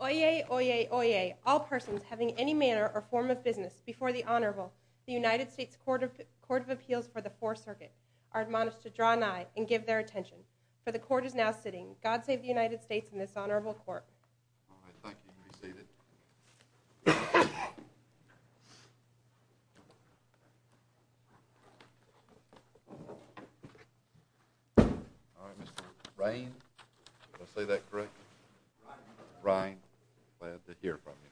Oyez, oyez, oyez, all persons having any manner or form of business before the Honorable, the United States Court of Appeals for the Fourth Circuit, are admonished to draw nigh and give their attention. For the Court is now sitting. God save the United States and All right, Mr. Brine, did I say that correct? Brine, glad to hear from you.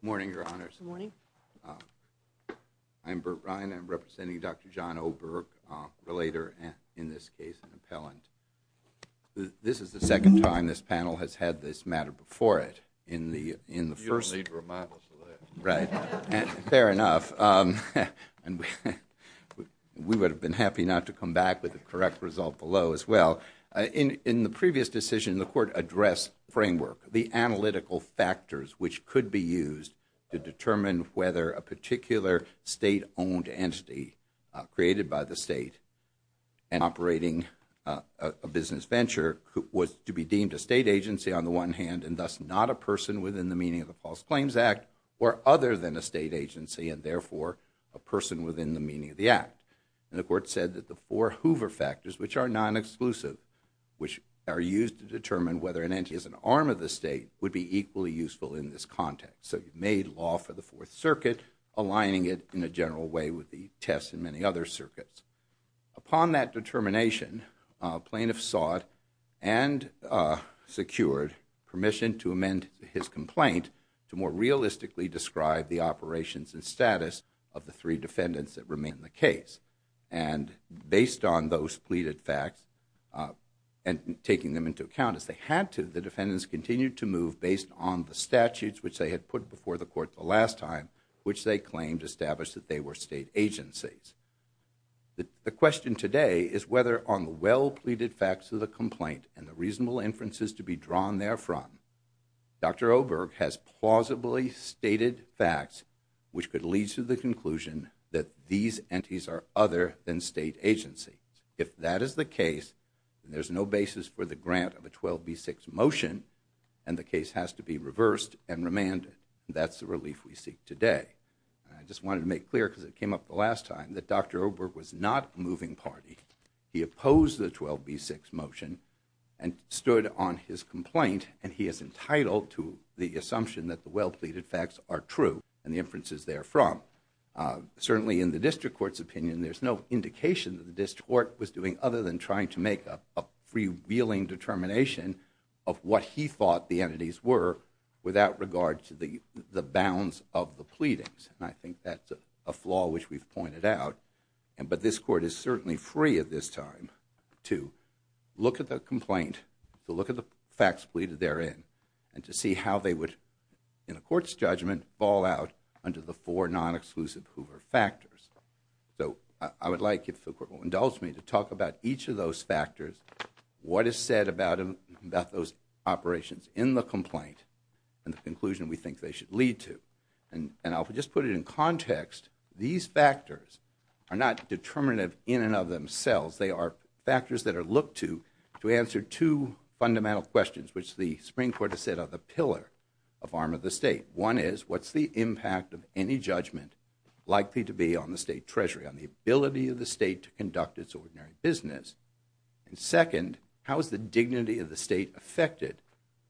Morning, Your Honors. Morning. I'm Burt Brine. I'm representing Dr. Jon Oberg, a relator and, in this case, an appellant. This is the second time this panel has had this matter before it in the first. You don't need reminders of that. Right. Fair enough. And we would have been happy not to come back with the correct result below as well. In the previous decision, the Court addressed framework, the analytical factors which could be used to determine whether a particular state-owned entity created by the state and operating a business venture was to be deemed a state agency on the one hand and thus not a person within the meaning of the False Claims Act or other than a state agency and therefore a person within the meaning of the Act. And the Court said that the four Hoover factors, which are non-exclusive, which are used to determine whether an entity is an arm of the state would be equally useful in this context. So you've made law for the Fourth Circuit, aligning it in a many other circuits. Upon that determination, plaintiff sought and secured permission to amend his complaint to more realistically describe the operations and status of the three defendants that remain in the case. And based on those pleaded facts and taking them into account as they had to, the defendants continued to move based on the statutes which they had put before the Court the agencies. The question today is whether on the well-pleaded facts of the complaint and the reasonable inferences to be drawn therefrom, Dr. Oberg has plausibly stated facts which could lead to the conclusion that these entities are other than state agencies. If that is the case, there's no basis for the grant of a 12b6 motion and the case has to be reversed and remanded. That's the clear because it came up the last time that Dr. Oberg was not a moving party. He opposed the 12b6 motion and stood on his complaint and he is entitled to the assumption that the well-pleaded facts are true and the inferences therefrom. Certainly in the district court's opinion, there's no indication that the district court was doing other than trying to make a freewheeling determination of what he thought the entities were without regard to the the bounds of the a flaw which we've pointed out and but this court is certainly free at this time to look at the complaint to look at the facts pleaded therein and to see how they would in the court's judgment fall out under the four non-exclusive Hoover factors. So I would like if the court will indulge me to talk about each of those factors, what is said about about those operations in the These factors are not determinative in and of themselves. They are factors that are looked to to answer two fundamental questions which the Supreme Court has said are the pillar of arm of the state. One is what's the impact of any judgment likely to be on the state treasury, on the ability of the state to conduct its ordinary business and second how is the dignity of the state affected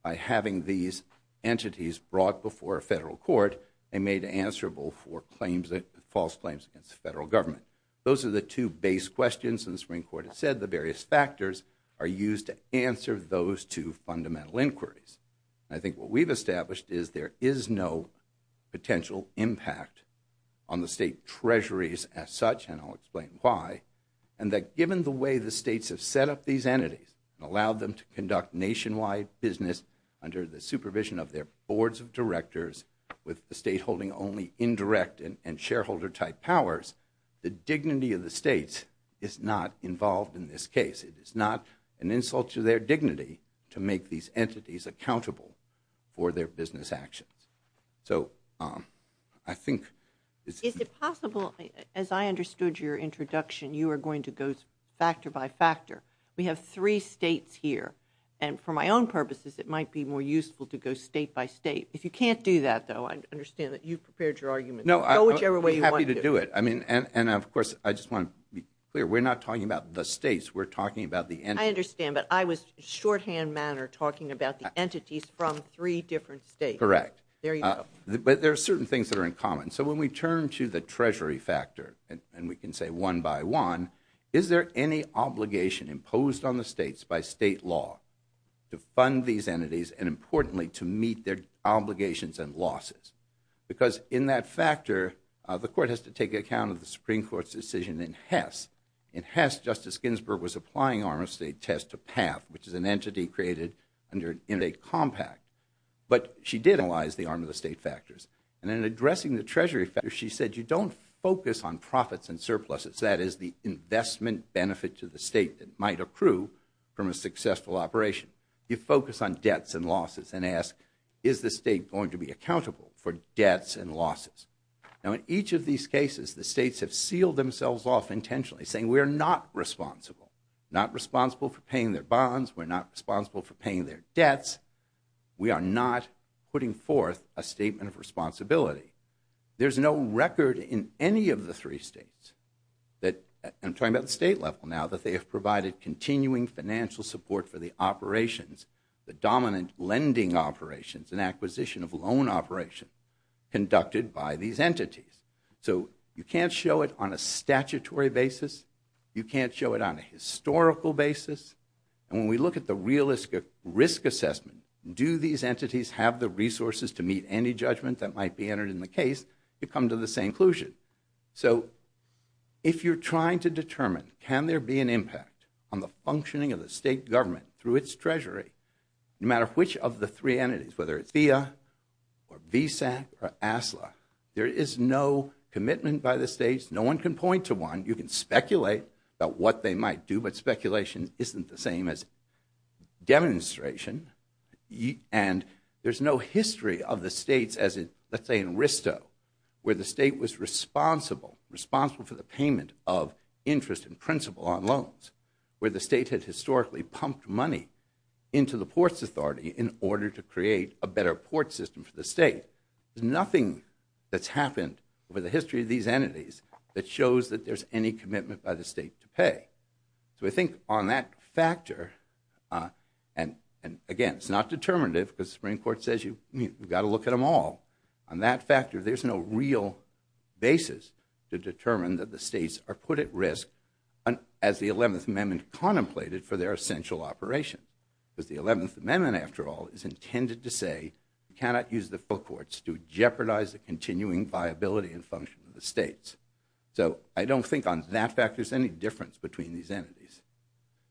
by having these entities brought before a federal court and made answerable for claims that false claims against the federal government. Those are the two base questions and the Supreme Court has said the various factors are used to answer those two fundamental inquiries. I think what we've established is there is no potential impact on the state treasuries as such and I'll explain why and that given the way the states have set up these entities and allowed them to conduct nationwide business under the supervision of their boards of directors with the state holding only indirect and shareholder type powers, the dignity of the states is not involved in this case. It is not an insult to their dignity to make these entities accountable for their business actions. So I think is it possible as I understood your introduction you are going to go factor by factor. We have three states here and for my own purposes it might be useful to go state by state. If you can't do that though I understand that you prepared your argument. No I'm happy to do it. I mean and of course I just want to be clear we're not talking about the states we're talking about the entities. I understand but I was shorthand manner talking about the entities from three different states. Correct. There you go. But there are certain things that are in common. So when we turn to the treasury factor and we can say one by one is there any obligation imposed on the states by state law to fund these entities and importantly to meet their obligations and losses because in that factor the court has to take account of the supreme court's decision in Hess. In Hess Justice Ginsburg was applying arm of state test to PATH which is an entity created under in a compact but she did analyze the arm of the state factors and in addressing the treasury factor she said you don't focus on profits and surpluses that is the investment benefit to the state that might accrue from a successful operation. You focus on debts and losses and ask is the state going to be accountable for debts and losses. Now in each of these cases the states have sealed themselves off intentionally saying we are not responsible. Not responsible for paying their bonds. We're not responsible for paying their debts. We are not putting forth a statement of responsibility. There's no record in any of the three states that I'm talking about the state level now that they have provided continuing financial support for the operations. The dominant lending operations and acquisition of loan operation conducted by these entities. So you can't show it on a statutory basis. You can't show it on a historical basis and when we look at the realistic risk assessment do these entities have the resources to meet any judgment that might be entered in the case you come to the same conclusion. So if you're trying to determine can there be an impact on the functioning of the state government through its treasury no matter which of the three entities whether it's FIA or VSAC or ASLA there is no commitment by the states. No one can point to one. You can speculate about what they might do but speculation isn't the same as demonstration and there's no history of the responsible for the payment of interest and principal on loans where the state had historically pumped money into the ports authority in order to create a better port system for the state. There's nothing that's happened over the history of these entities that shows that there's any commitment by the state to pay. So I think on that factor and again it's not determinative because the Supreme Court says you've got to look at them all. On that factor there's no real basis to determine that the states are put at risk and as the 11th amendment contemplated for their essential operation because the 11th amendment after all is intended to say you cannot use the full courts to jeopardize the continuing viability and function of the states. So I don't think on that fact there's any difference between these entities.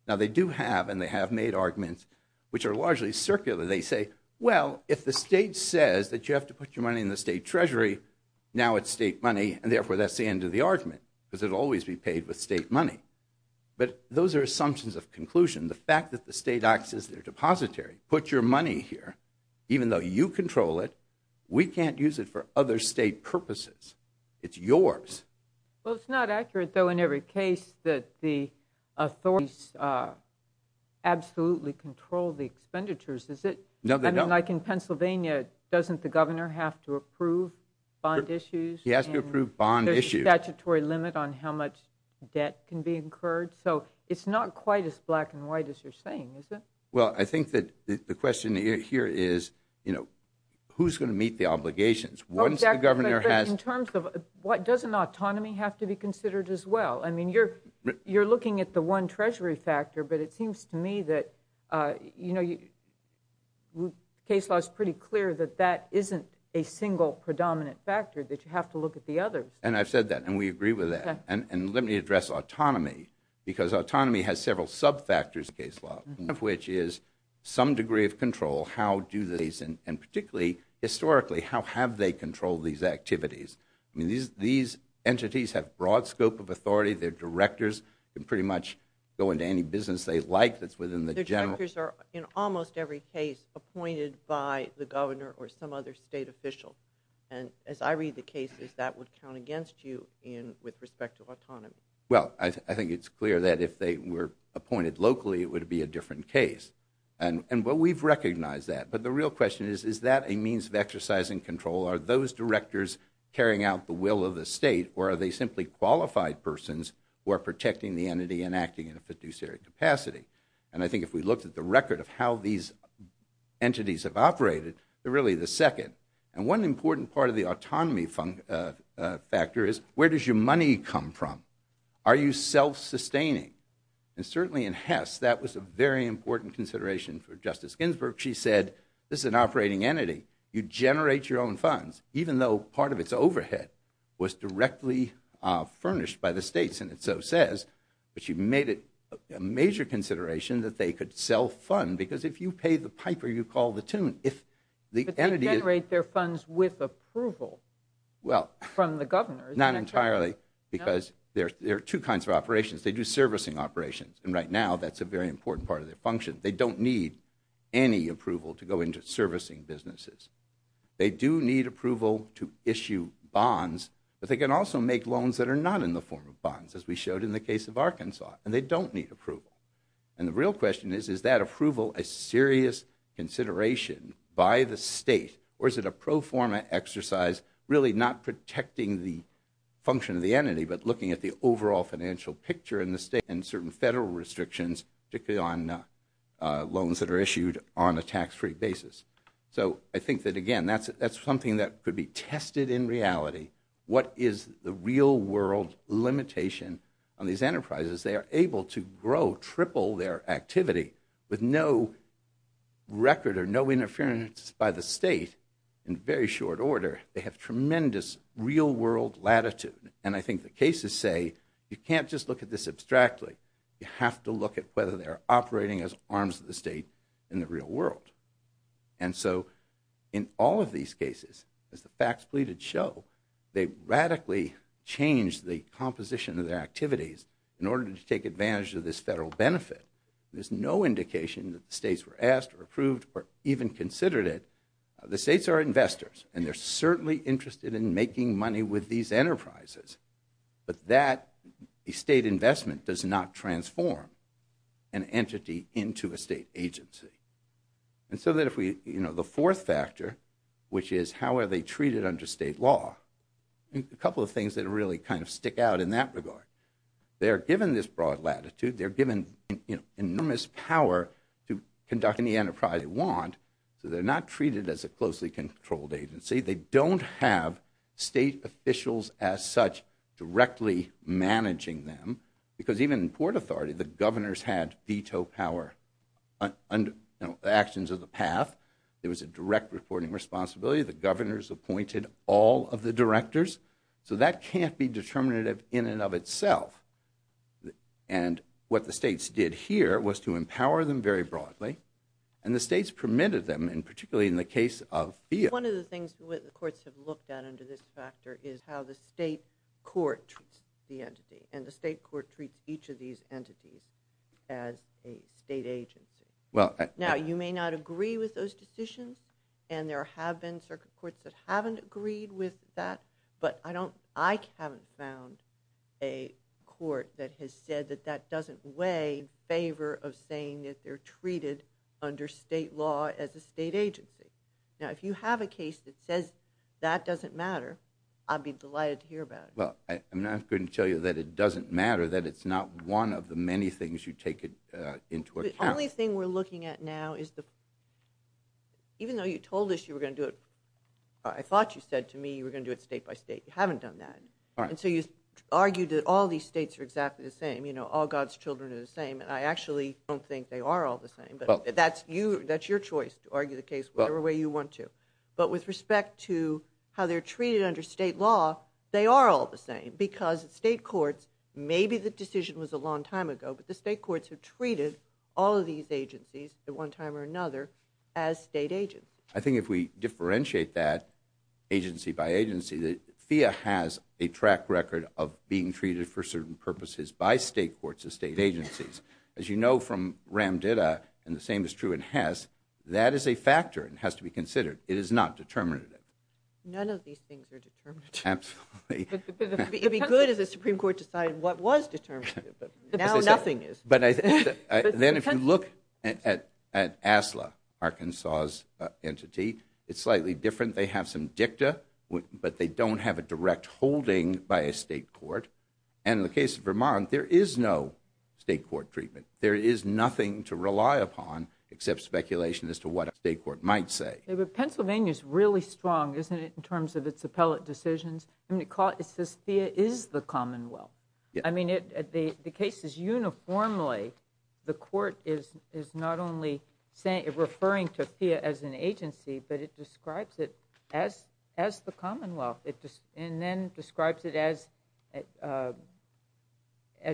Now they do have and they have made arguments which are largely circular. They say well if the state says that you have to put your money in the state treasury now it's state money and therefore that's the end of the argument because it'll always be paid with state money. But those are assumptions of conclusion. The fact that the state acts as their depository put your money here even though you control it we can't use it for other state purposes. It's yours. Well it's not accurate though in every case that the authorities absolutely control the expenditures is it? No. I mean like in Pennsylvania doesn't the governor have to approve bond issues? He has to approve bond issues. There's a statutory limit on how much debt can be incurred so it's not quite as black and white as you're saying is it? Well I think that the question here is you know who's going to meet the obligations? Once the governor has. In terms of what doesn't autonomy have to be considered as well? I mean you're you're looking at the one treasury factor but it seems to me that you know you case law is pretty clear that that isn't a single predominant factor that you have to look at the others. And I've said that and we agree with that. And let me address autonomy because autonomy has several sub-factors in case law. One of which is some degree of control. How do these and particularly historically how have they controlled these activities? I mean these entities have broad scope of authority. They're directors can pretty much go into any business they like that's within the general. Directors are in almost every case appointed by the governor or some other state official. And as I read the cases that would count against you in with respect to autonomy. Well I think it's clear that if they were appointed locally it would be a different case. And and what we've recognized that but the real question is is that a means of exercising control? Are those directors carrying out the protecting the entity and acting in a fiduciary capacity? And I think if we looked at the record of how these entities have operated they're really the second. And one important part of the autonomy factor is where does your money come from? Are you self-sustaining? And certainly in Hess that was a very important consideration for Justice Ginsburg. She said this is an operating entity. You generate your own funds even though part of its overhead was directly furnished by the states. And it so says but she made it a major consideration that they could sell fund because if you pay the piper you call the tune. If the entity generate their funds with approval well from the governor. Not entirely because there are two kinds of operations. They do servicing operations and right now that's a very important part of their function. They don't need any approval to go into servicing businesses. They do need approval to issue bonds but they can also make loans that are not in the form of bonds as we showed in the case of Arkansas and they don't need approval. And the real question is is that approval a serious consideration by the state or is it a pro forma exercise really not protecting the function of the entity but looking at the overall financial picture in the state and certain federal restrictions particularly on loans that are issued on a tax-free basis. So I think that again that's something that could be tested in reality. What is the real world limitation on these enterprises? They are able to grow triple their activity with no record or no interference by the state in very short order. They have tremendous real world latitude and I think the cases say you can't just look at this abstractly. You have to look at whether they're operating as arms of the state in the real world. And so in all of these cases as the facts pleaded show they radically changed the composition of their activities in order to take advantage of this federal benefit. There's no indication that the states were asked or approved or even considered it. The states are investors and they're certainly interested in making money with these enterprises but that a state investment does not transform an entity into a state agency. And so that if we you know the fourth factor which is how are they treated under state law. A couple of things that really kind of stick out in that regard. They are given this broad latitude. They're given you know enormous power to conduct any enterprise they want. So they're not treated as a closely controlled agency. They don't have state officials as such directly managing them because even in port authority the governors had veto power under the actions of the path. There was a direct reporting responsibility. The governors appointed all of the directors. So that can't be determinative in and of itself. And what the states did here was to empower them very broadly and the states permitted them and particularly in the case of fiat. One of the things with the courts have looked at under this factor is how the state court treats the entity and the state court treats each of these entities as a state agency. Well now you may not agree with those decisions and there have been circuit courts that haven't agreed with that but I don't I haven't found a court that has said that that way in favor of saying that they're treated under state law as a state agency. Now if you have a case that says that doesn't matter I'd be delighted to hear about it. Well I'm not going to tell you that it doesn't matter that it's not one of the many things you take it into account. The only thing we're looking at now is the even though you told us you were going to do it I thought you said to me you were going to do it state by state you haven't done that. All right. And so you argued that all these states are exactly the same you know all God's children are the same and I actually don't think they are all the same but that's you that's your choice to argue the case whatever way you want to. But with respect to how they're treated under state law they are all the same because state courts maybe the decision was a long time ago but the state courts have treated all of these agencies at one time or another as state agents. I think if we differentiate that agency by agency that FEA has a track record of being treated for certain purposes by state courts of state agencies. As you know from Ram Ditta and the same is true in Hess that is a factor and has to be considered. It is not determinative. None of these things are determinative. Absolutely. It'd be good if the Supreme Court decided what was determinative but now nothing is. Then if you look at ASLA Arkansas's entity it's slightly different. They have some dicta but they don't have a direct holding by a state court and in the case of Vermont there is no state court treatment. There is nothing to rely upon except speculation as to what a state court might say. But Pennsylvania is really strong isn't it in terms of its appellate decisions. It says FEA is the commonwealth. I mean the case is uniformly the court is not only referring to FEA as an agency but it describes it as the commonwealth and then describes it as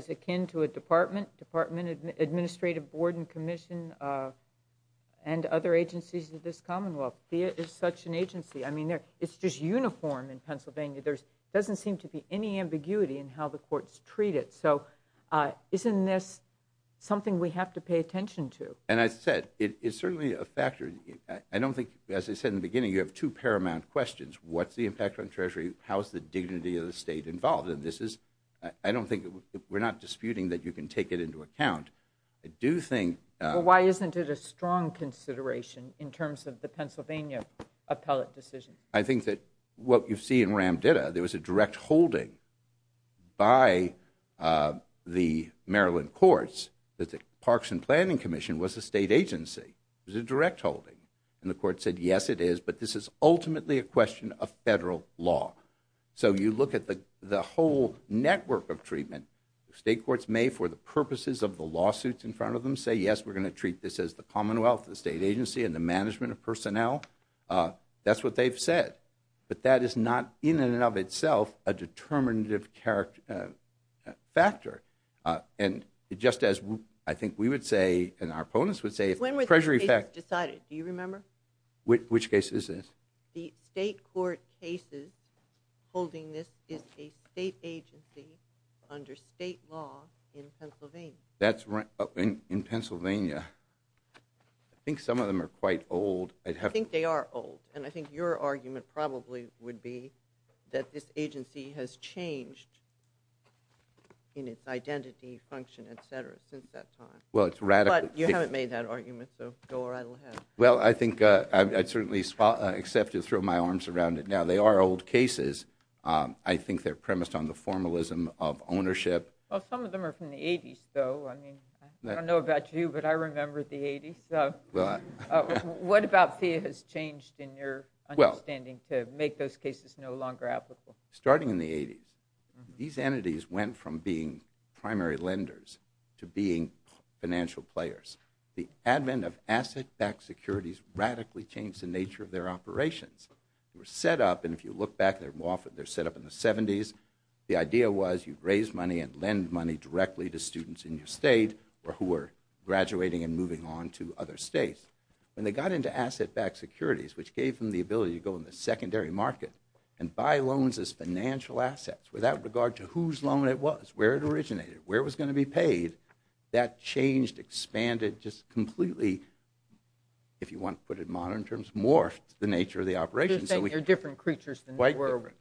akin to a department, department administrative board and commission and other agencies of this doesn't seem to be any ambiguity in how the courts treat it. So isn't this something we have to pay attention to? And I said it is certainly a factor. I don't think as I said in the beginning you have two paramount questions. What's the impact on treasury? How is the dignity of the state involved? And this is I don't think we're not disputing that you can take it into account. I do think. Why isn't it a strong consideration in terms of the Pennsylvania appellate decision? I think that what you see in Ramditta there was a direct holding by the Maryland courts that the parks and planning commission was a state agency. It was a direct holding and the court said yes it is but this is ultimately a question of federal law. So you look at the the whole network of treatment. State courts may for the purposes of the lawsuits in front of them say yes we're going to treat this as the commonwealth, the state personnel. That's what they've said. But that is not in and of itself a determinative factor. And just as I think we would say and our opponents would say. When was this decided? Do you remember? Which case is this? The state court cases holding this is a state agency under state law in Pennsylvania. That's right in Pennsylvania. I think some of them are quite old. I think they are old and I think your argument probably would be that this agency has changed in its identity function etc since that time. Well it's radical. But you haven't made that argument so go right ahead. Well I think I'd certainly accept to throw my arms around it. They are old cases. I think they're premised on the formalism of ownership. Well some of them are from the 80s though. I mean I don't know about you but I remember the 80s. What about FIA has changed in your understanding to make those cases no longer applicable? Starting in the 80s. These entities went from being primary lenders to being financial players. The advent of asset-backed securities radically changed the nature of their operations. They were set up and if you look back they're set up in the 70s. The idea was you'd raise money and lend money directly to students in your state or who were graduating and moving on to other states. When they got into asset-backed securities which gave them the ability to go in the secondary market and buy loans as financial assets without regard to whose loan it was, where it originated, where it was going to be paid. That changed, expanded, just completely, if you want to put it modern terms, morphed the nature of the operation. So you're saying they're different creatures. Quite different.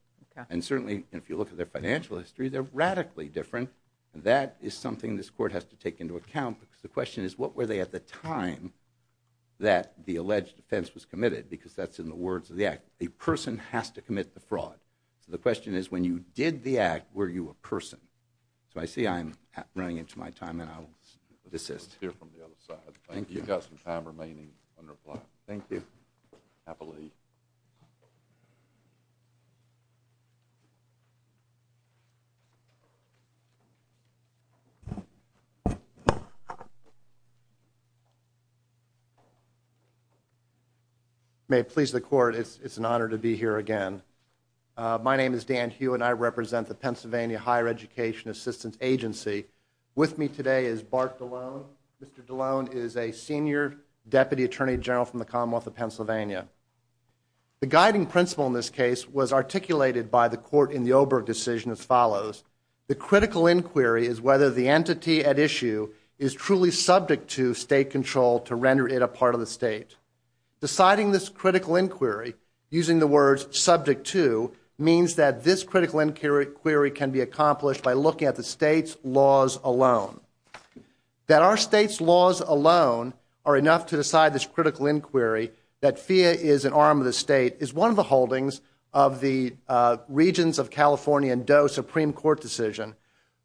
And certainly if you look at their financial history they're radically different. That is something this court has to take into account because the question is what were they at the time that the alleged offense was committed because that's in the words of the act. A person has to commit the fraud. So the question is when you did the act, were you a person? So I see I'm running into my time and I'll desist. We'll hear from the other side. Thank you. You've got some time remaining on the floor. Thank you. Happily. May it please the court, it's an honor to be here again. My name is Dan Hugh and I represent the Pennsylvania Higher Education Assistance Agency. With me today is Bart DeLone. Mr. DeLone is a The guiding principle in this case was articulated by the court in the Oberg decision as follows. The critical inquiry is whether the entity at issue is truly subject to state control to render it a part of the state. Deciding this critical inquiry using the words subject to means that this critical inquiry can be accomplished by looking at the state's laws alone. That our is an arm of the state is one of the holdings of the regions of California and DOE Supreme Court decision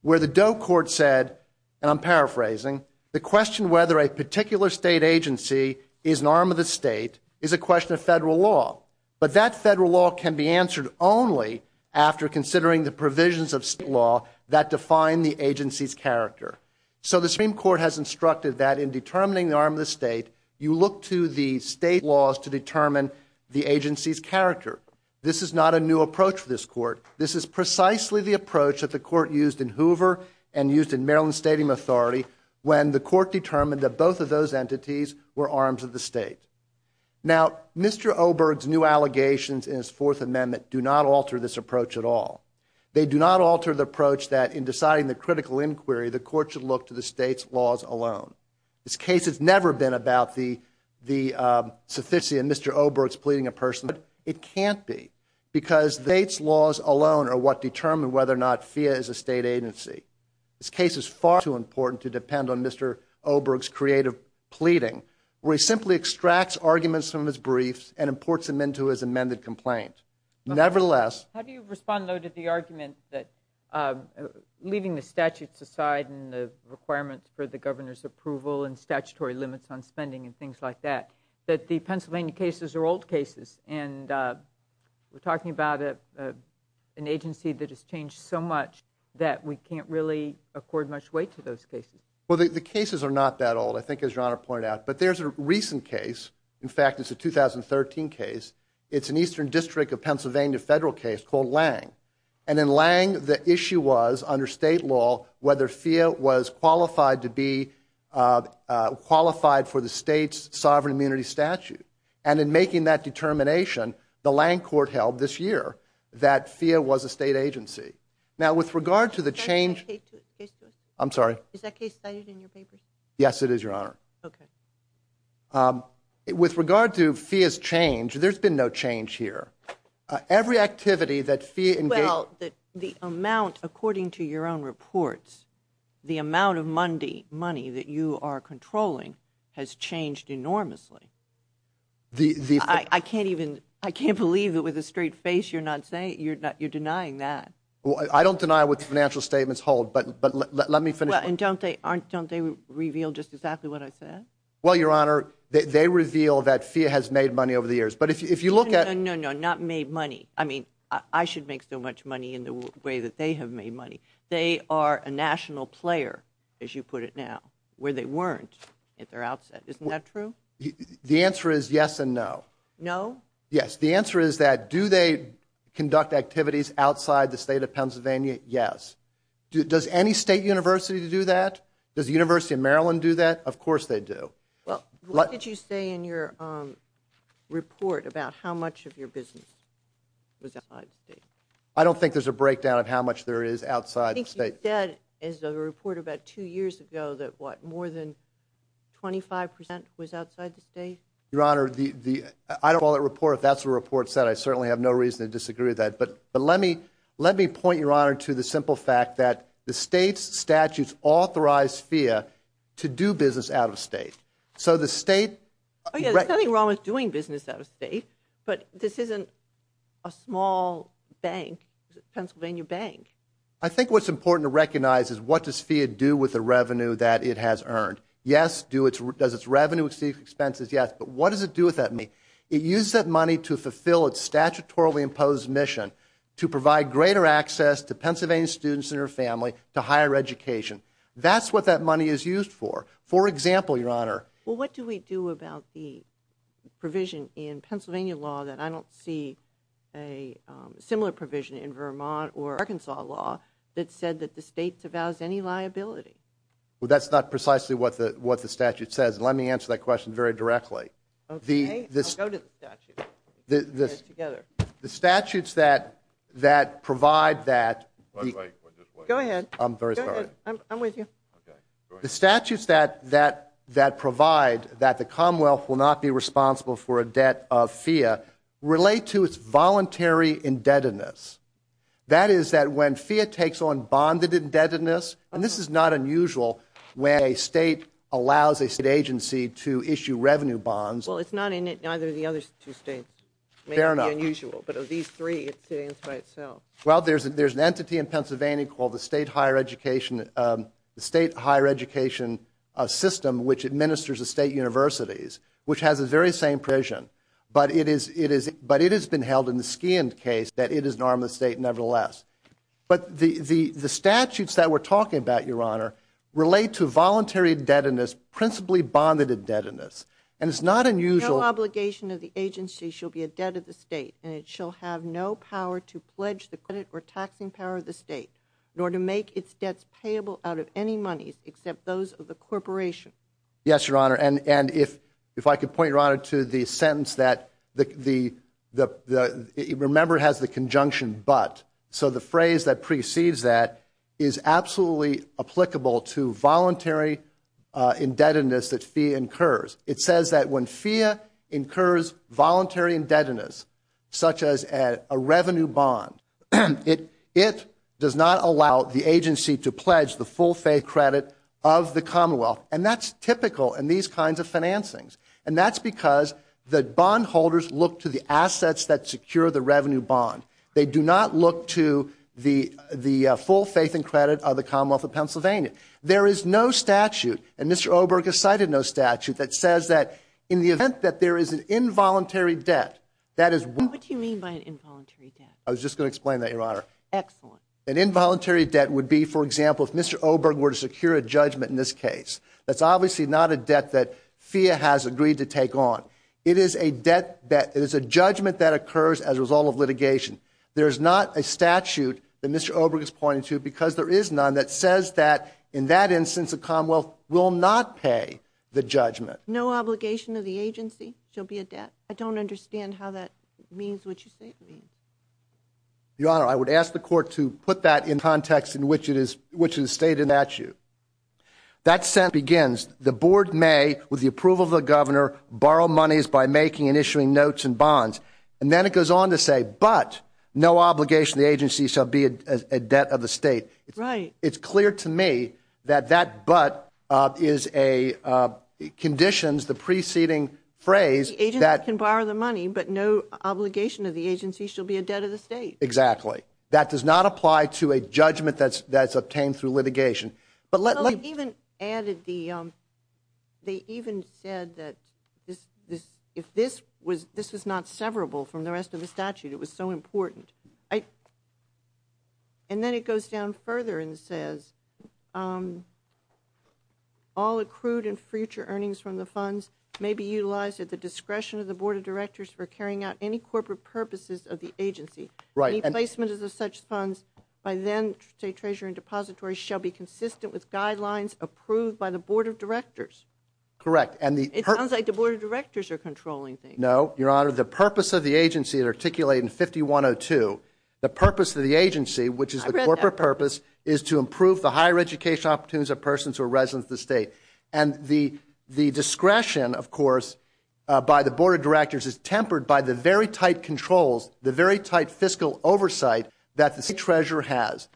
where the DOE court said, and I'm paraphrasing, the question whether a particular state agency is an arm of the state is a question of federal law. But that federal law can be answered only after considering the provisions of state law that define the agency's character. So the Supreme Court has instructed that in determining the arm of the state, you look to the state laws to determine the agency's character. This is not a new approach for this court. This is precisely the approach that the court used in Hoover and used in Maryland Stadium Authority when the court determined that both of those entities were arms of the state. Now Mr. Oberg's new allegations in his fourth amendment do not alter this approach at all. They do not alter the approach that in deciding the critical inquiry, the court should look to the state's laws alone. This case has never been about the sufficient Mr. Oberg's pleading a person, but it can't be because the state's laws alone are what determine whether or not FEA is a state agency. This case is far too important to depend on Mr. Oberg's creative pleading where he simply extracts arguments from his briefs and imports them into his amended complaint. Nevertheless... How do you respond though to the argument that leaving the statutes aside and the requirements for the governor's approval and statutory limits on spending and things like that, that the Pennsylvania cases are old cases and we're talking about an agency that has changed so much that we can't really accord much weight to those cases? Well the cases are not that old I think as your honor pointed out, but there's a recent case, in fact it's a 2013 case, it's an eastern district of Pennsylvania federal case called Lange and in Lange the issue was under state law whether FEA was qualified to be qualified for the state's sovereign immunity statute and in making that determination the Lange court held this year that FEA was a state agency. Now with regard to the change... Is that case cited in your papers? Yes it is your honor. Okay. With regard to FEA's change there's been no change here. Every activity that FEA... Well the amount according to your own reports, the amount of money that you are controlling has changed enormously. I can't even, I can't believe it with a straight face you're not saying, you're not, you're denying that. Well I don't deny what the financial statements hold, but let me finish. Well and don't they aren't, don't they reveal just exactly what I said? Well your honor, they reveal that FEA has made money over the years, but if you look at... No, no, no, not made money, I mean I should make so much money in the way that they have made money. They are a national player, as you put it now, where they weren't at their outset. Isn't that true? The answer is yes and no. No? Yes. The answer is that do they conduct activities outside the state of Pennsylvania? Yes. Does any state university do that? Does the University of Maryland do that? Of course they do. Well what did you say in your report about how much of your business was outside the state? I don't think there's a breakdown of how much there is outside the state. I think you said in the report about two years ago that what, more than 25 percent was outside the state? Your honor, the, the, I don't call that report, if that's what the report said, I certainly have no reason to disagree with that, but, but let me, let me point your honor to the simple fact that the state's statutes authorize FEA to do business out of state. So the state... There's nothing wrong with doing business out of state, but this isn't a small bank, Pennsylvania bank. I think what's important to recognize is what does FEA do with the revenue that it has earned? Yes, do it, does its revenue exceed expenses? Yes. But what does it do with that money? It uses that money to fulfill its statutorily imposed mission to provide greater access to Pennsylvania students and their family to higher education. That's what that money is used for. For example, your honor... Well, what do we do about the provision in Pennsylvania law that I don't see a similar provision in Vermont or Arkansas law that said that the state devalues any liability? Well, that's not precisely what the, what the statute says. Let me answer that question very directly. Okay, I'll go to the statute. The statutes that, that provide that... Go ahead. I'm very sorry. I'm with you. The statutes that, that, that provide that the Commonwealth will not be responsible for a debt of FEA relate to its voluntary indebtedness. That is that when FEA takes on bonded indebtedness, and this is not unusual when a state allows a state agency to issue revenue bonds. Well, it's not in it, neither of the other two states. Fair enough. Maybe unusual, but of these three, it's sitting by itself. Well, there's, there's an entity in Pennsylvania called the State Higher Education, the State Higher Education System, which administers the state universities, which has the very same provision, but it is, it is, but it has been held in the Skian case that it is an arm of the state nevertheless. But the, the, the statutes that we're talking about, your honor, relate to voluntary indebtedness, principally bonded indebtedness, and it's not unusual... No obligation of the agency shall be a debt of the state, and it shall have no power to pledge the credit or taxing power of the state, nor to make its debts payable out of any monies except those of the corporation. Yes, your honor, and, and if, if I could point your honor to the sentence that the, the, the, the, remember it has the conjunction but, so the phrase that precedes that is absolutely applicable to voluntary indebtedness that FEA incurs. It says that when it, it does not allow the agency to pledge the full faith credit of the commonwealth, and that's typical in these kinds of financings, and that's because the bondholders look to the assets that secure the revenue bond. They do not look to the, the full faith and credit of the commonwealth of Pennsylvania. There is no statute, and Mr. Oberg has cited no statute that says that in the event that there is an involuntary debt, that is... What do you mean by an involuntary debt? I was just going to explain that, your honor. Excellent. An involuntary debt would be, for example, if Mr. Oberg were to secure a judgment in this case. That's obviously not a debt that FEA has agreed to take on. It is a debt that, it is a judgment that occurs as a result of litigation. There is not a statute that Mr. Oberg is pointing to, because there is none, that says that in that be a debt. I don't understand how that means what you say it means. Your honor, I would ask the court to put that in context in which it is, which is stated in the statute. That sentence begins, the board may, with the approval of the governor, borrow monies by making and issuing notes and bonds, and then it goes on to say, but no obligation the agency shall be a debt of the state. Right. It's clear to me that that but is a conditions, the preceding phrase that... The agency can borrow the money, but no obligation of the agency shall be a debt of the state. Exactly. That does not apply to a judgment that's that's obtained through litigation. But let me... Even added the, they even said that this, if this was, this was not severable from the rest of the statute, it was so important. And then it goes down further and says, all accrued and future earnings from the funds may be utilized at the discretion of the board of directors for carrying out any corporate purposes of the agency. Right. Any placements of such funds by then, say treasurer and depository, shall be consistent with guidelines approved by the board of directors. Correct. And the... It sounds like the board of directors are controlling No, your honor. The purpose of the agency that articulate in 5102, the purpose of the agency, which is the corporate purpose, is to improve the higher education opportunities of persons who are residents of the state. And the, the discretion, of course, by the board of directors is tempered by the very tight controls, the very tight fiscal oversight that the state treasurer has.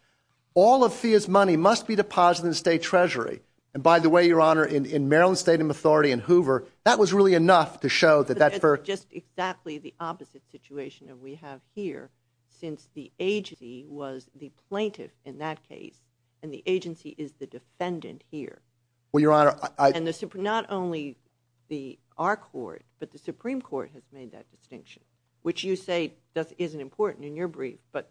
All of FIA's money must be deposited in the state treasury. And by the way, your honor, in, in Maryland state and authority and Hoover, that was really enough to show that that's just exactly the opposite situation that we have here since the agency was the plaintiff in that case. And the agency is the defendant here. Well, your honor, I, and the super, not only the, our court, but the Supreme court has made that distinction, which you say doesn't, isn't important in your brief, but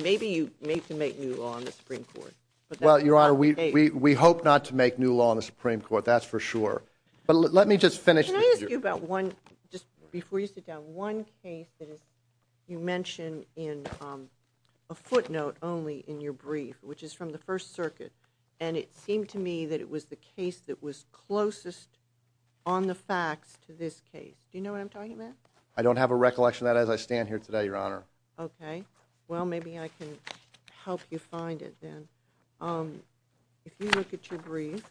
maybe you need to make new law on the Supreme court. Well, your honor, we, we, we hope not to make new law on the Supreme court. That's for sure. But let me just finish about one, just before you sit down one case that is, you mentioned in a footnote only in your brief, which is from the first circuit. And it seemed to me that it was the case that was closest on the facts to this case. Do you know what I'm talking about? I don't have a recollection of that as I stand here today, your honor. Okay. Well, maybe I can help you find it then. If you look at your brief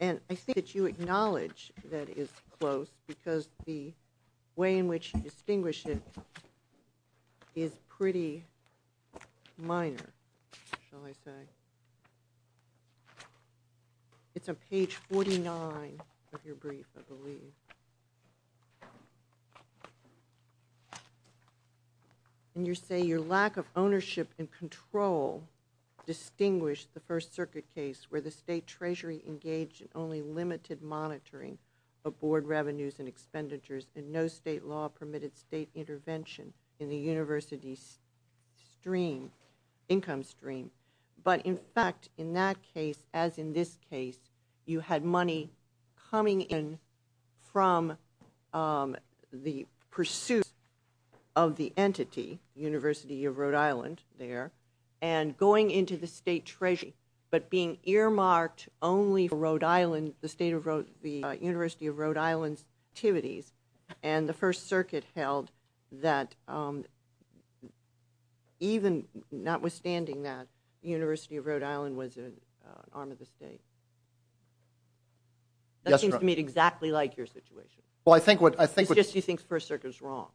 and I think that you acknowledge that is close because the way in which you distinguish it is pretty minor. Shall I say it? It's a page 49 of your brief, I believe. And you say your lack of ownership and control distinguish the first circuit case where the state treasury engaged in only limited monitoring of board revenues and expenditures and no state intervention in the university stream, income stream. But in fact, in that case, as in this case, you had money coming in from, um, the pursuit of the entity university of Rhode Island there and going into the state treasury, but being earmarked only for Rhode Island, the state of the university of Rhode Island's activities and the first circuit held that, um, even not withstanding that university of Rhode Island was an arm of the state. That seems to me exactly like your situation. Well, I think what I think, it's just, he thinks first circuit is wrong.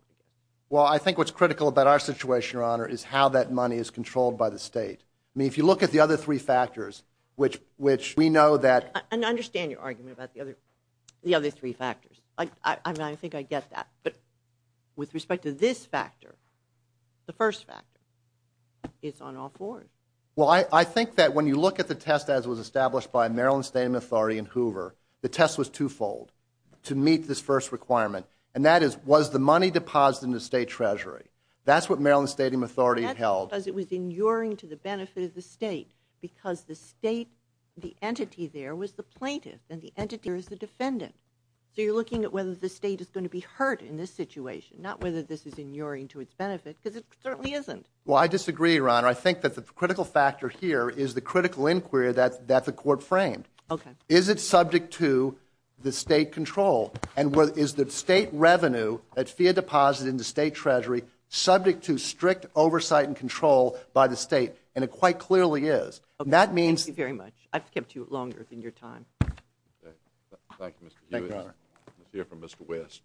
Well, I think what's critical about our situation, your honor, is how that money is controlled by the state. I mean, if you look at the other three factors, which, which we know that, and I understand your argument about the other, the other three factors. I think I get that. But with respect to this factor, the first factor is on all four. Well, I think that when you look at the test, as it was established by Maryland state and authority and Hoover, the test was twofold to meet this first requirement. And that is, was the money deposited in the state treasury? That's what Maryland state authority held because it was inuring to the benefit of the state because the state, the entity there was the plaintiff and the entity is the defendant. So you're looking at whether the state is going to be hurt in this situation, not whether this is inuring to its benefit, because it certainly isn't. Well, I disagree, your honor. I think that the critical factor here is the critical inquiry that the court framed. Okay. Is it subject to the state control and what is the state revenue at fiat deposit in the state treasury subject to strict oversight and control by the state? And it quite clearly is. That means very much. I've kept you longer than your time. Thank you, Mr. Hewitt. Let's hear from Mr. West.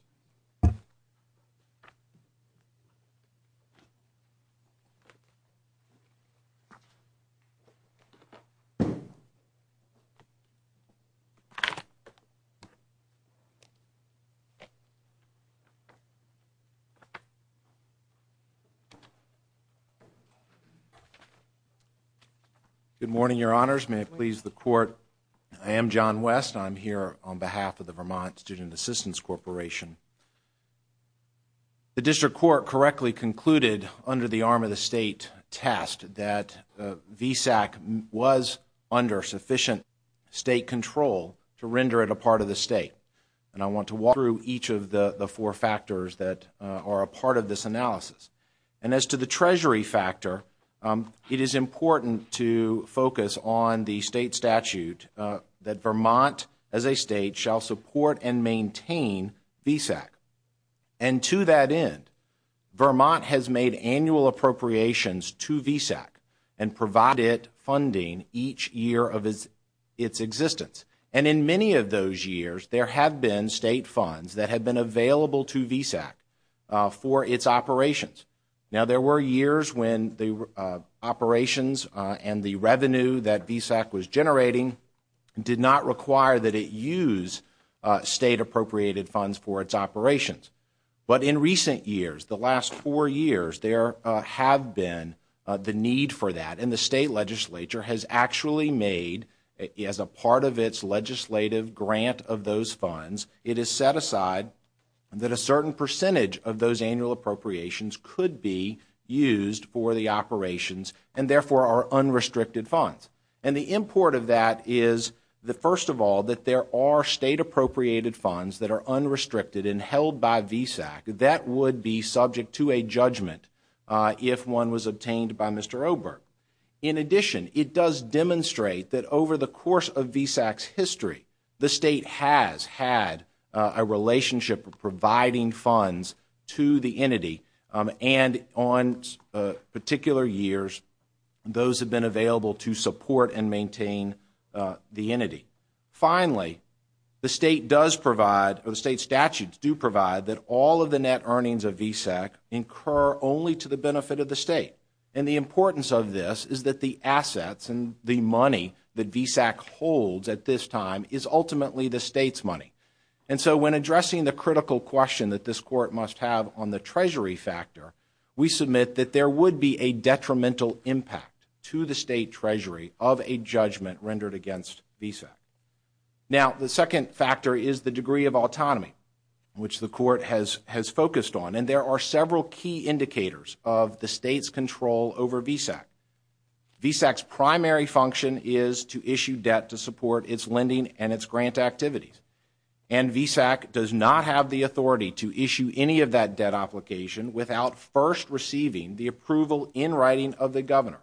Good morning, your honors. May it please the court. I am John West. I'm here on behalf of the Vermont Student Assistance Corporation. The district court correctly concluded under the arm of the state test that VSAC was under sufficient state control to render it a part of the state. And I want to walk through each of the four factors that are a part of this analysis. And as to the treasury factor, it is important to focus on the state statute that Vermont as a state shall support and maintain VSAC. And to that end, Vermont has made annual appropriations to VSAC and provided funding each year of its existence. And in many of those years, there have been state funds that have been available to VSAC for its operations. Now, there were years when the operations and the revenue that VSAC was generating did not require that it use state appropriated funds for its operations. But in recent years, the last four and the state legislature has actually made as a part of its legislative grant of those funds, it is set aside that a certain percentage of those annual appropriations could be used for the operations and therefore are unrestricted funds. And the import of that is the first of all, that there are state appropriated funds that are unrestricted and held by VSAC that would be subject to a judgment if one was obtained by Mr. Oberg. In addition, it does demonstrate that over the course of VSAC's history, the state has had a relationship providing funds to the entity. And on particular years, those have been available to support and all of the net earnings of VSAC incur only to the benefit of the state. And the importance of this is that the assets and the money that VSAC holds at this time is ultimately the state's money. And so when addressing the critical question that this court must have on the treasury factor, we submit that there would be a detrimental impact to the state treasury of a judgment rendered against VSAC. Now, the second factor is the degree of autonomy, which the court has focused on. And there are several key indicators of the state's control over VSAC. VSAC's primary function is to issue debt to support its lending and its grant activities. And VSAC does not have the authority to issue any of that debt application without first receiving the approval in writing of the governor.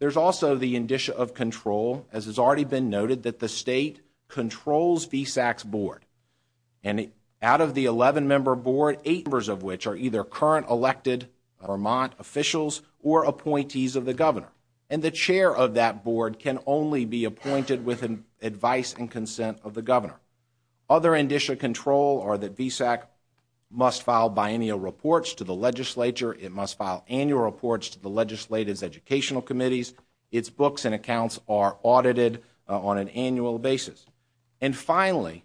There's also the indicia of control, as has already been noted, that the state controls VSAC's board. And out of the 11-member board, eight members of which are either current elected Vermont officials or appointees of the governor. And the chair of that board can only be appointed with advice and consent of the governor. Other indicia of control are that VSAC must file biennial reports to the legislature. It must file annual reports to the legislative educational committees. Its books and accounts are audited on an annual basis. And finally,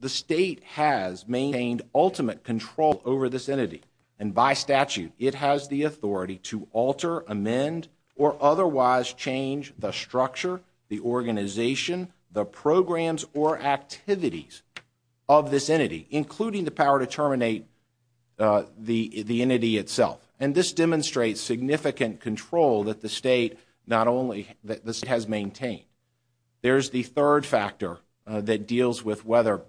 the state has maintained ultimate control over this entity. And by statute, it has the authority to alter, amend, or otherwise change the structure, the organization, the programs, or activities of this entity, including the power to terminate the entity itself. And this demonstrates significant control that the state not only that this has maintained. There's the third factor that deals with whether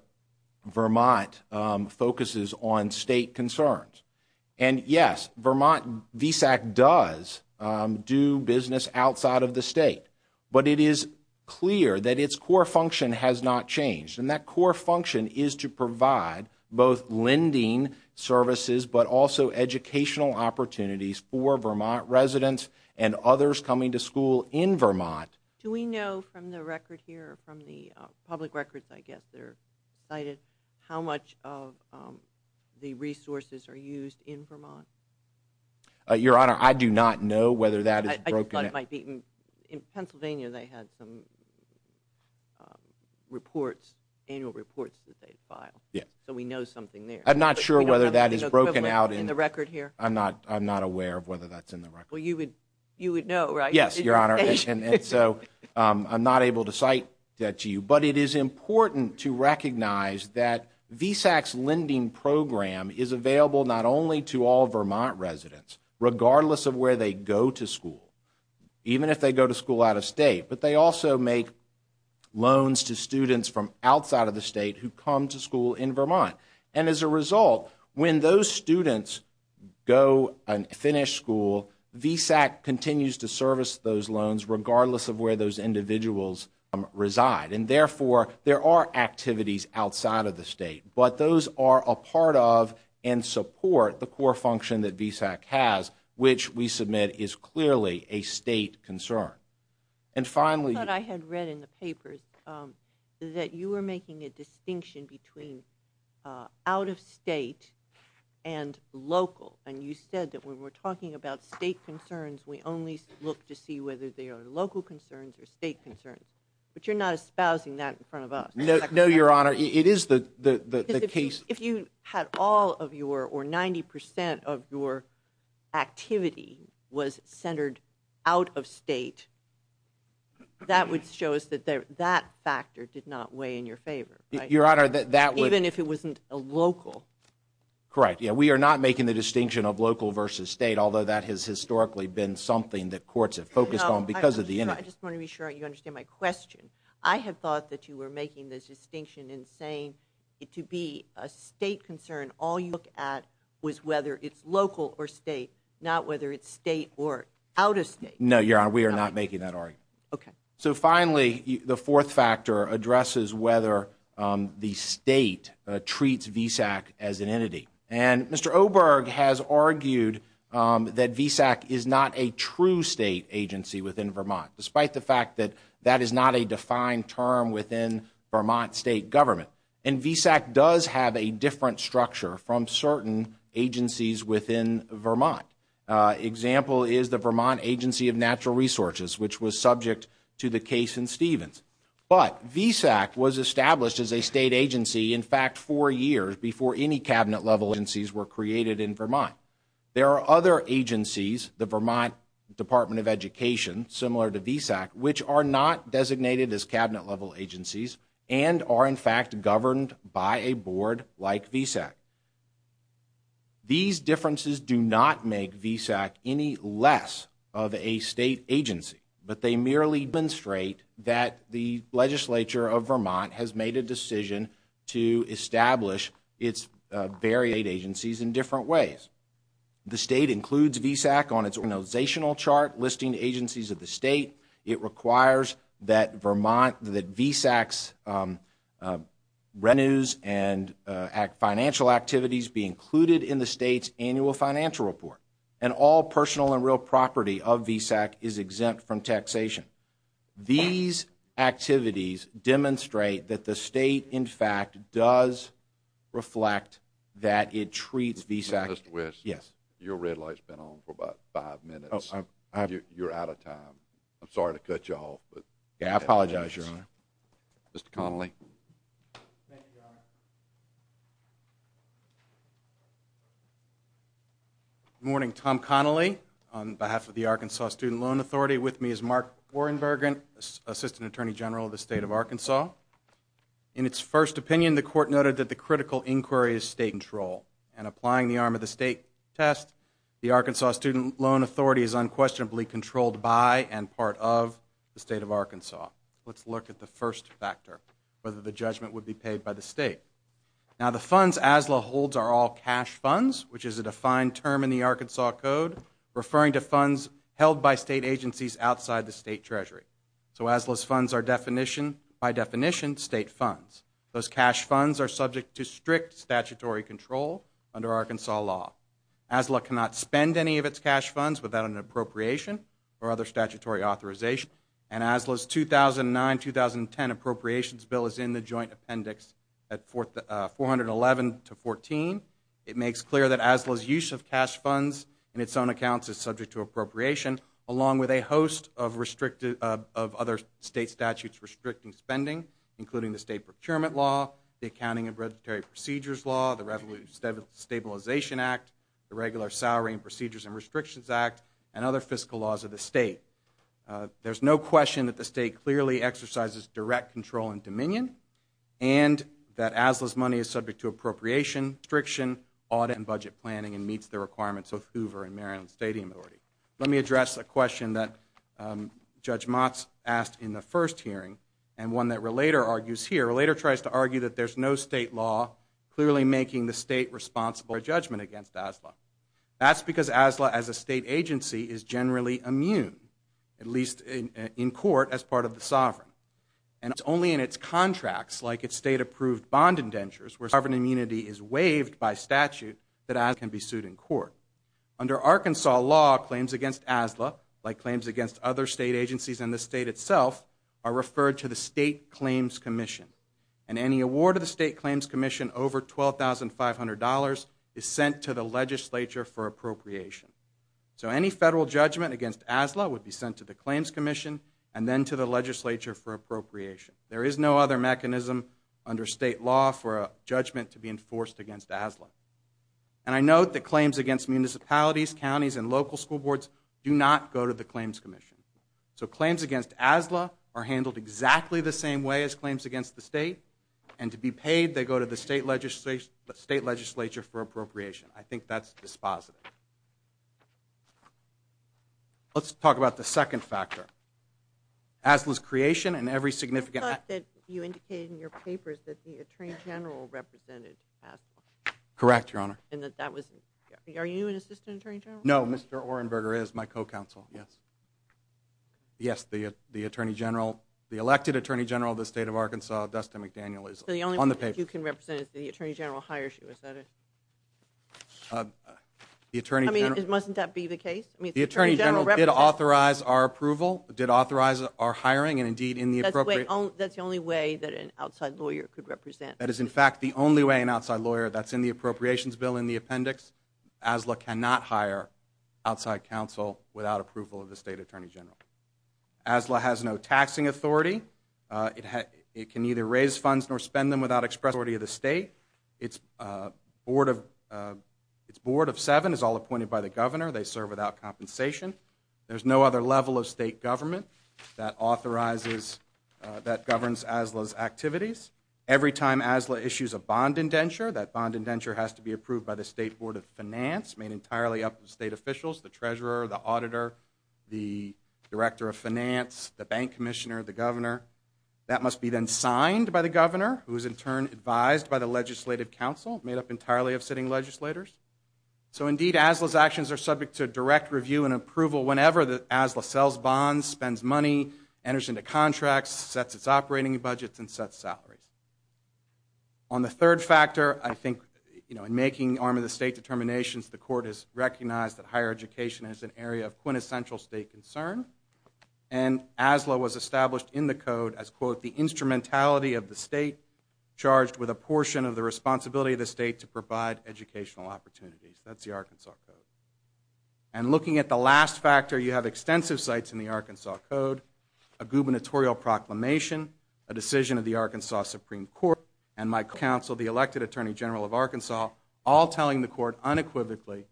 Vermont focuses on state concerns. And yes, Vermont VSAC does do business outside of the state. But it is clear that its core function has not changed. And that function is to provide both lending services, but also educational opportunities for Vermont residents and others coming to school in Vermont. Do we know from the record here, from the public records, I guess they're cited, how much of the resources are used in Vermont? Your honor, I do not know whether that is broken. I thought it might be. In Pennsylvania, they had some annual reports that they filed. So we know something there. I'm not sure whether that is broken out in the record here. I'm not aware of whether that's in the record. Well, you would know, right? Yes, your honor. And so, I'm not able to cite that to you. But it is important to recognize that VSAC's lending program is available not only to all Vermont residents, regardless of where they go to school, even if they go to school out of state, but they also make loans to students from outside of the state who come to school in Vermont. And as a result, when those students go and finish school, VSAC continues to service those loans, regardless of where those individuals reside. And therefore, there are activities outside of the state. But those are a part of and support the core function that VSAC has, which we submit is clearly a state concern. And finally... I thought I had read in the papers that you were making a distinction between out of state and local. And you said that when we're talking about state concerns, we only look to see whether they are local concerns or state concerns. But you're not espousing that in front of us. No, your honor. It is the case... If you had all of your or 90% of your activity was centered out of state, that would show us that that factor did not weigh in your favor. Your honor, that would... Even if it wasn't a local. Correct. Yeah, we are not making the distinction of local versus state, although that has historically been something that courts have focused on because of the... I just want to be sure you understand my question. I had thought that you were making this distinction and saying it to be a state concern. All you look at was whether it's local or state, not whether it's state or out of state. No, your honor. We are not making that argument. Okay. So finally, the fourth factor addresses whether the state treats VSAC as an entity. And Mr. Oberg has argued that VSAC is not a true state agency within Vermont, despite the fact that that is not a defined term within Vermont state government. And VSAC does have a different structure from certain agencies within Vermont. Example is the Vermont Agency of Natural Resources, which was subject to the case in Stevens. But VSAC was established as a state agency, in fact, four years before any cabinet level agencies were created in Vermont. There are other agencies, the Vermont Department of Education, similar to VSAC, which are not designated as cabinet level agencies and are, in fact, governed by a board like VSAC. These differences do not make VSAC any less of a state agency, but they merely demonstrate that the legislature of Vermont has made a decision to establish its variate agencies in different ways. The state includes VSAC on its organizational chart, listing agencies of the state. It requires that VSAC's revenues and financial activities be included in the state's annual financial report. And all personal and real property of VSAC is exempt from taxation. These activities demonstrate that the state, in fact, does reflect that it treats VSAC... Mr. West? Yes. Your red light's been on for about five minutes. You're out of time. I'm sorry to cut you off, but... Yeah, I apologize, Your Honor. Mr. Connolly? Good morning. Tom Connolly on behalf of the Arkansas Student Loan Authority. With me is Mark Warrenbergen, Assistant Attorney General of the State of Arkansas. In its first opinion, the court noted that the critical inquiry is state control. And applying the arm of the state test, the Arkansas Student Loan Authority is unquestionably controlled by and part of the state of Arkansas. Let's look at the first factor, whether the judgment would be paid by the state. Now, the funds ASLA holds are all cash funds, which is a defined term in the Arkansas Code, referring to funds held by state agencies outside the state treasury. So ASLA's funds are by definition state funds. Those cash funds are subject to strict statutory control under Arkansas law. ASLA cannot spend any of its cash funds without an appropriation or other statutory authorization. And ASLA's 2009-2010 appropriations bill is in the joint appendix at 411 to 14. It makes clear that ASLA's use of cash funds in its own accounts is subject to appropriation, along with a host of other state statutes restricting spending, including the state Irregular Salary and Procedures and Restrictions Act, and other fiscal laws of the state. There's no question that the state clearly exercises direct control and dominion, and that ASLA's money is subject to appropriation restriction, audit and budget planning, and meets the requirements of Hoover and Maryland Stadium Authority. Let me address a question that Judge Motz asked in the first hearing, and one that Relater argues here. Relater tries to argue that there's no state law clearly making the state responsible for judgment against ASLA. That's because ASLA, as a state agency, is generally immune, at least in court, as part of the sovereign. And it's only in its contracts, like its state-approved bond indentures, where sovereign immunity is waived by statute, that ASLA can be sued in court. Under Arkansas law, claims against ASLA, like claims against other state agencies and the state itself, are referred to the State Claims Commission. And any award of the State Claims Commission over $12,500 is sent to the legislature for appropriation. So any federal judgment against ASLA would be sent to the Claims Commission, and then to the legislature for appropriation. There is no other mechanism under state law for a judgment to be enforced against ASLA. And I note that claims against municipalities, counties, and local school boards do not go to the Claims Commission. So claims against ASLA are handled exactly the same way as claims against the state. And to be paid, they go to the state legislature for appropriation. I think that's dispositive. Let's talk about the second factor. ASLA's creation and every significant... I thought that you indicated in your papers that the Attorney General represented ASLA. Correct, Your Honor. And that that was... Are you an Assistant Attorney General? No, Mr. Orenberger is my co-counsel. Yes. Yes, the Attorney General, the elected Attorney General of the state of Arkansas, Dustin McDaniel, is on the paper. So the only person that you can represent is the Attorney General hires you, is that it? The Attorney General... I mean, mustn't that be the case? I mean, the Attorney General represents... The Attorney General did authorize our approval, did authorize our hiring, and indeed in the appropriate... That's the only way that an outside lawyer could represent... That is in fact the only way an outside lawyer, that's in the appropriations bill in the appendix, ASLA cannot hire outside counsel without approval of the State Attorney General. ASLA has no taxing authority. It can neither raise funds nor spend them without express authority of the state. Its board of seven is all appointed by the Governor. They serve without compensation. There's no other level of state government that authorizes, that governs ASLA's activities. Every time ASLA issues a bond indenture, that bond indenture has to be approved by the State Board of Finance, made entirely up of state officials, the treasurer, the auditor, the director of finance, the bank commissioner, the governor. That must be then signed by the governor, who is in turn advised by the legislative council, made up entirely of sitting legislators. So indeed, ASLA's actions are subject to direct review and approval whenever the ASLA sells bonds, spends money, enters into contracts, sets its operating budgets, and sets salaries. On the third factor, I think, you know, in making the arm of the state determinations, the court has recognized that higher education is an area of quintessential state concern. And ASLA was established in the code as, quote, the instrumentality of the state, charged with a portion of the responsibility of the state to provide educational opportunities. That's the Arkansas Code. And looking at the last factor, you have extensive sites in the Arkansas Code, a gubernatorial proclamation, a decision of the Arkansas Supreme Court, and my counsel, the elected attorney general of Arkansas, all telling the court unequivocally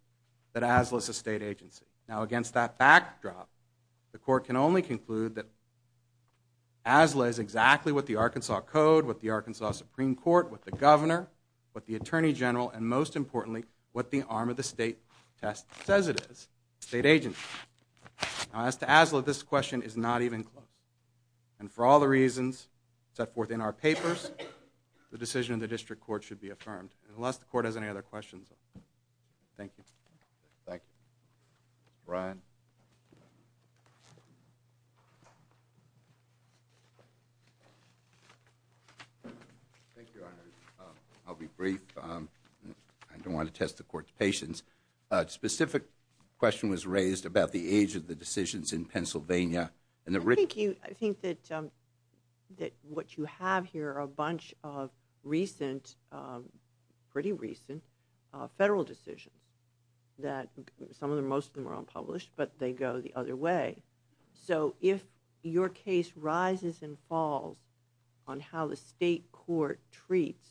that ASLA is a state agency. Now, against that backdrop, the court can only conclude that ASLA is exactly what the Arkansas Code, what the Arkansas Supreme Court, what the governor, what the attorney general, and most importantly, what the arm of the state test says it is, a state agency. Now, as to ASLA, this question is not even close. And for all the reasons set forth in our papers, the decision of the district court should be affirmed, unless the court has any other questions. Thank you. Thank you. Brian? Thank you, Your Honor. I'll be brief. I don't want to test the court's patience. Specific question was raised about the age of the decisions in Pennsylvania. Thank you. I think that what you have here are a bunch of recent, pretty recent, federal decisions that some of them, most of them are unpublished, but they go the other way. So if your case rises and falls on how the state court treats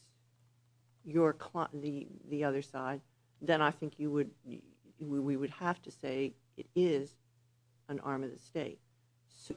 the other side, then I think you would, we would have to say it is an arm of the state. So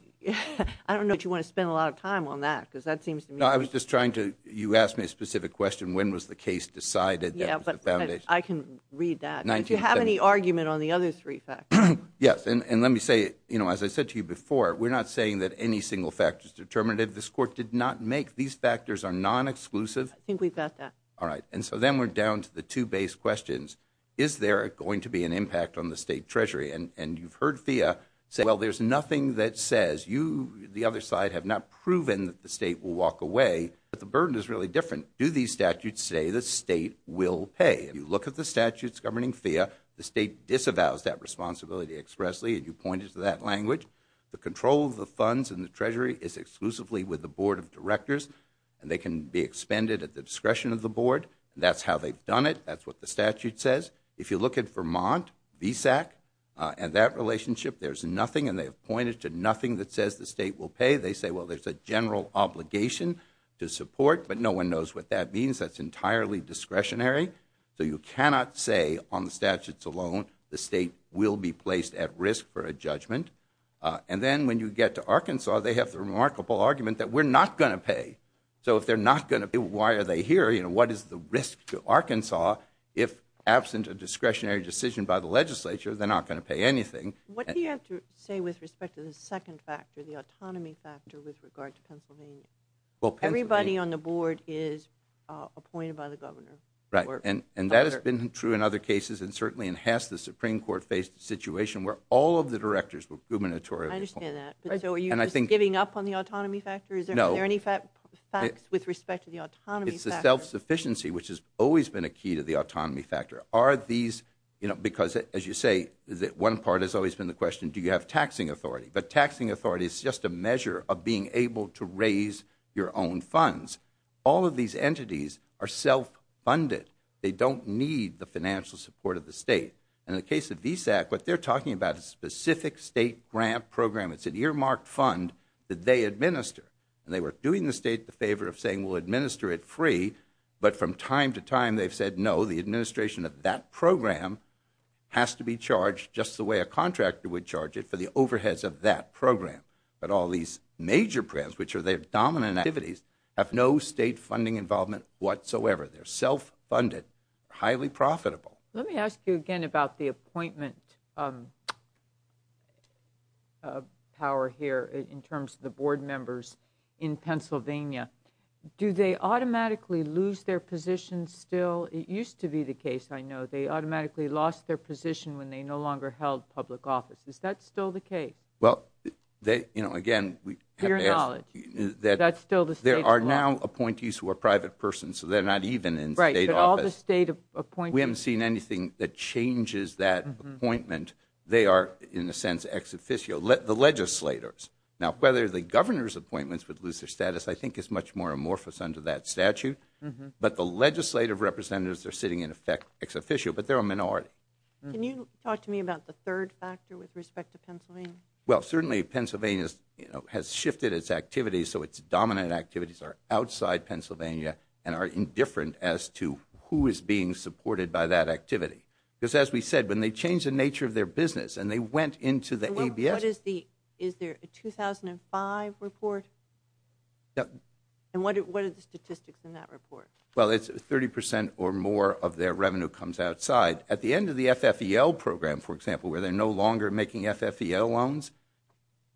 I don't know that you want to spend a lot of time on that because that seems to me. No, I was just trying to, you asked me a specific question. When was the case decided? Yeah, but I can read that. Do you have any argument on the other three factors? Yes. And let me say, you know, as I said to you before, we're not saying that any single factor is determinative. This court did not make these factors are non-exclusive. I think we've got that. All right. And so then we're down to the two base questions. Is there going to be an impact on the state treasury? And you've heard FIIA say, well, there's nothing that says you, the other side have not proven that the state will walk away, but the burden is really different. Do these statutes say the state will pay? If you look at the statutes governing FIIA, the state disavows that responsibility expressly. And you pointed to that language. The control of the funds and the treasury is exclusively with the board of directors and they can be expended at the discretion of the board. That's how they've done it. That's what the statute says. If you look at Vermont, VSAC and that relationship, there's nothing and they have pointed to nothing that says the state will pay. They say, well, there's a general obligation to support, but no one knows what that means. That's entirely discretionary. So you cannot say on the statutes alone, the state will be placed at risk for a judgment. And then when you get to Arkansas, they have the remarkable argument that we're not going to pay. So if they're not going to pay, why are they here? What is the risk to Arkansas? If absent a discretionary decision by the legislature, they're not going to pay anything. What do you have to say with respect to the second factor, the autonomy factor with regard to Pennsylvania? Everybody on the board is appointed by the governor. And that has been true in other cases. And certainly in Hasse, the Supreme Court faced a situation where all of the directors were gubernatorial. I understand that. So are you just giving up on the autonomy factor? Is there any facts with respect to the autonomy factor? The self-sufficiency, which has always been a key to the autonomy factor. Are these, you know, because as you say, one part has always been the question, do you have taxing authority? But taxing authority is just a measure of being able to raise your own funds. All of these entities are self-funded. They don't need the financial support of the state. And in the case of VSAC, what they're talking about is a specific state grant program. It's an earmarked fund that they administer. And they were doing the state the favor of saying, we'll administer it free. But from time to time, they've said, no, the administration of that program has to be charged just the way a contractor would charge it for the overheads of that program. But all these major programs, which are their dominant activities, have no state funding involvement whatsoever. They're self-funded, highly profitable. Let me ask you again about the appointment of power here in terms of the board members in Pennsylvania. Do they automatically lose their position still? It used to be the case, I know, they automatically lost their position when they no longer held public office. Is that still the case? Well, you know, again, that's still the state's law. There are now appointees who are private persons. So they're not even in state office. Right, but all the state appointees. We haven't seen anything that changes that appointment. They are, in a sense, ex officio, the legislators. Now, whether the governor's appointments would lose their status, I think, is much more amorphous under that statute. But the legislative representatives are sitting, in effect, ex officio. But they're a minority. Can you talk to me about the third factor with respect to Pennsylvania? Well, certainly Pennsylvania has shifted its activities. So its dominant activities are outside Pennsylvania and are indifferent as to who is being supported by that activity. Because as we said, when they changed the nature of their business and they went into the ABS. What is the, is there a 2005 report? And what are the statistics in that report? Well, it's 30% or more of their revenue comes outside. At the end of the FFEL program, for example, where they're no longer making FFEL loans,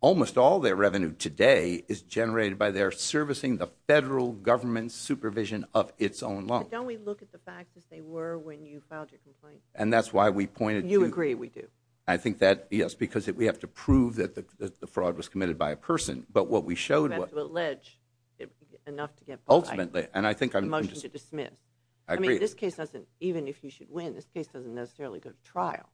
almost all their revenue today is generated by their servicing the federal government supervision of its own loan. Don't we look at the facts as they were when you filed your complaint? And that's why we pointed to. You agree we do. I think that, yes, because we have to prove that the fraud was committed by a person. But what we showed. You have to allege enough to get. Ultimately. And I think I'm. A motion to dismiss. I agree. This case doesn't, even if you should win, this case doesn't necessarily go to trial.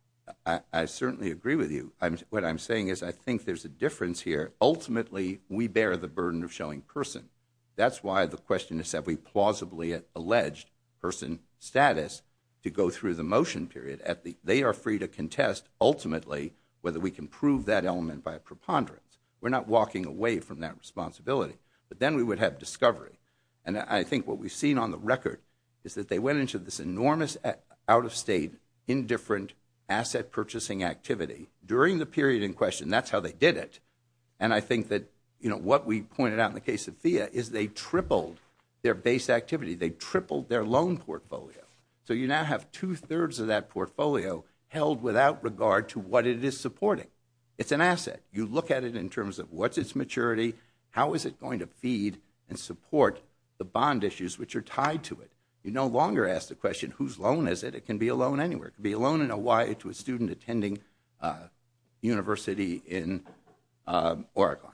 I certainly agree with you. What I'm saying is I think there's a difference here. Ultimately, we bear the burden of showing person. That's why the question is, have we plausibly alleged person status to go through the motion period at the they are free to contest ultimately whether we can prove that element by a preponderance. We're not walking away from that responsibility. But then we would have discovery. And I think what we've seen on the record is that they went into this enormous out of state, indifferent asset purchasing activity during the period in question. That's how they did it. And I think that what we pointed out in the case of is they tripled their base activity. They tripled their loan portfolio. So you now have two thirds of that portfolio held without regard to what it is supporting. It's an asset. You look at it in terms of what's its maturity. How is it going to feed and support the bond issues which are tied to it? You no longer ask the question, whose loan is it? It can be alone anywhere. It can be a loan in Hawaii to a student attending a university in Oregon.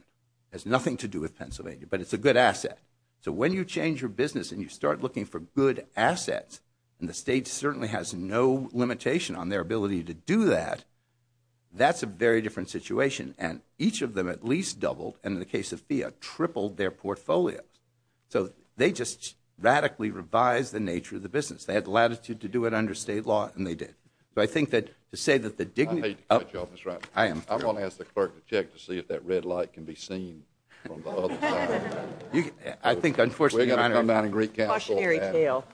It has nothing to do with Pennsylvania. But it's a good asset. So when you change your business and you start looking for good assets, and the state certainly has no limitation on their ability to do that, that's a very different situation. And each of them at least doubled, and in the case of FIIA, tripled their portfolios. So they just radically revised the nature of the business. They had the latitude to do it under state law, and they did. So I think that to say that the dignity— I hate to cut you off, Mr. Reiner. I am. I'm going to ask the clerk to check to see if that red light can be seen from the other side. I think, unfortunately, Your Honor— We're going to come down and recalculate that.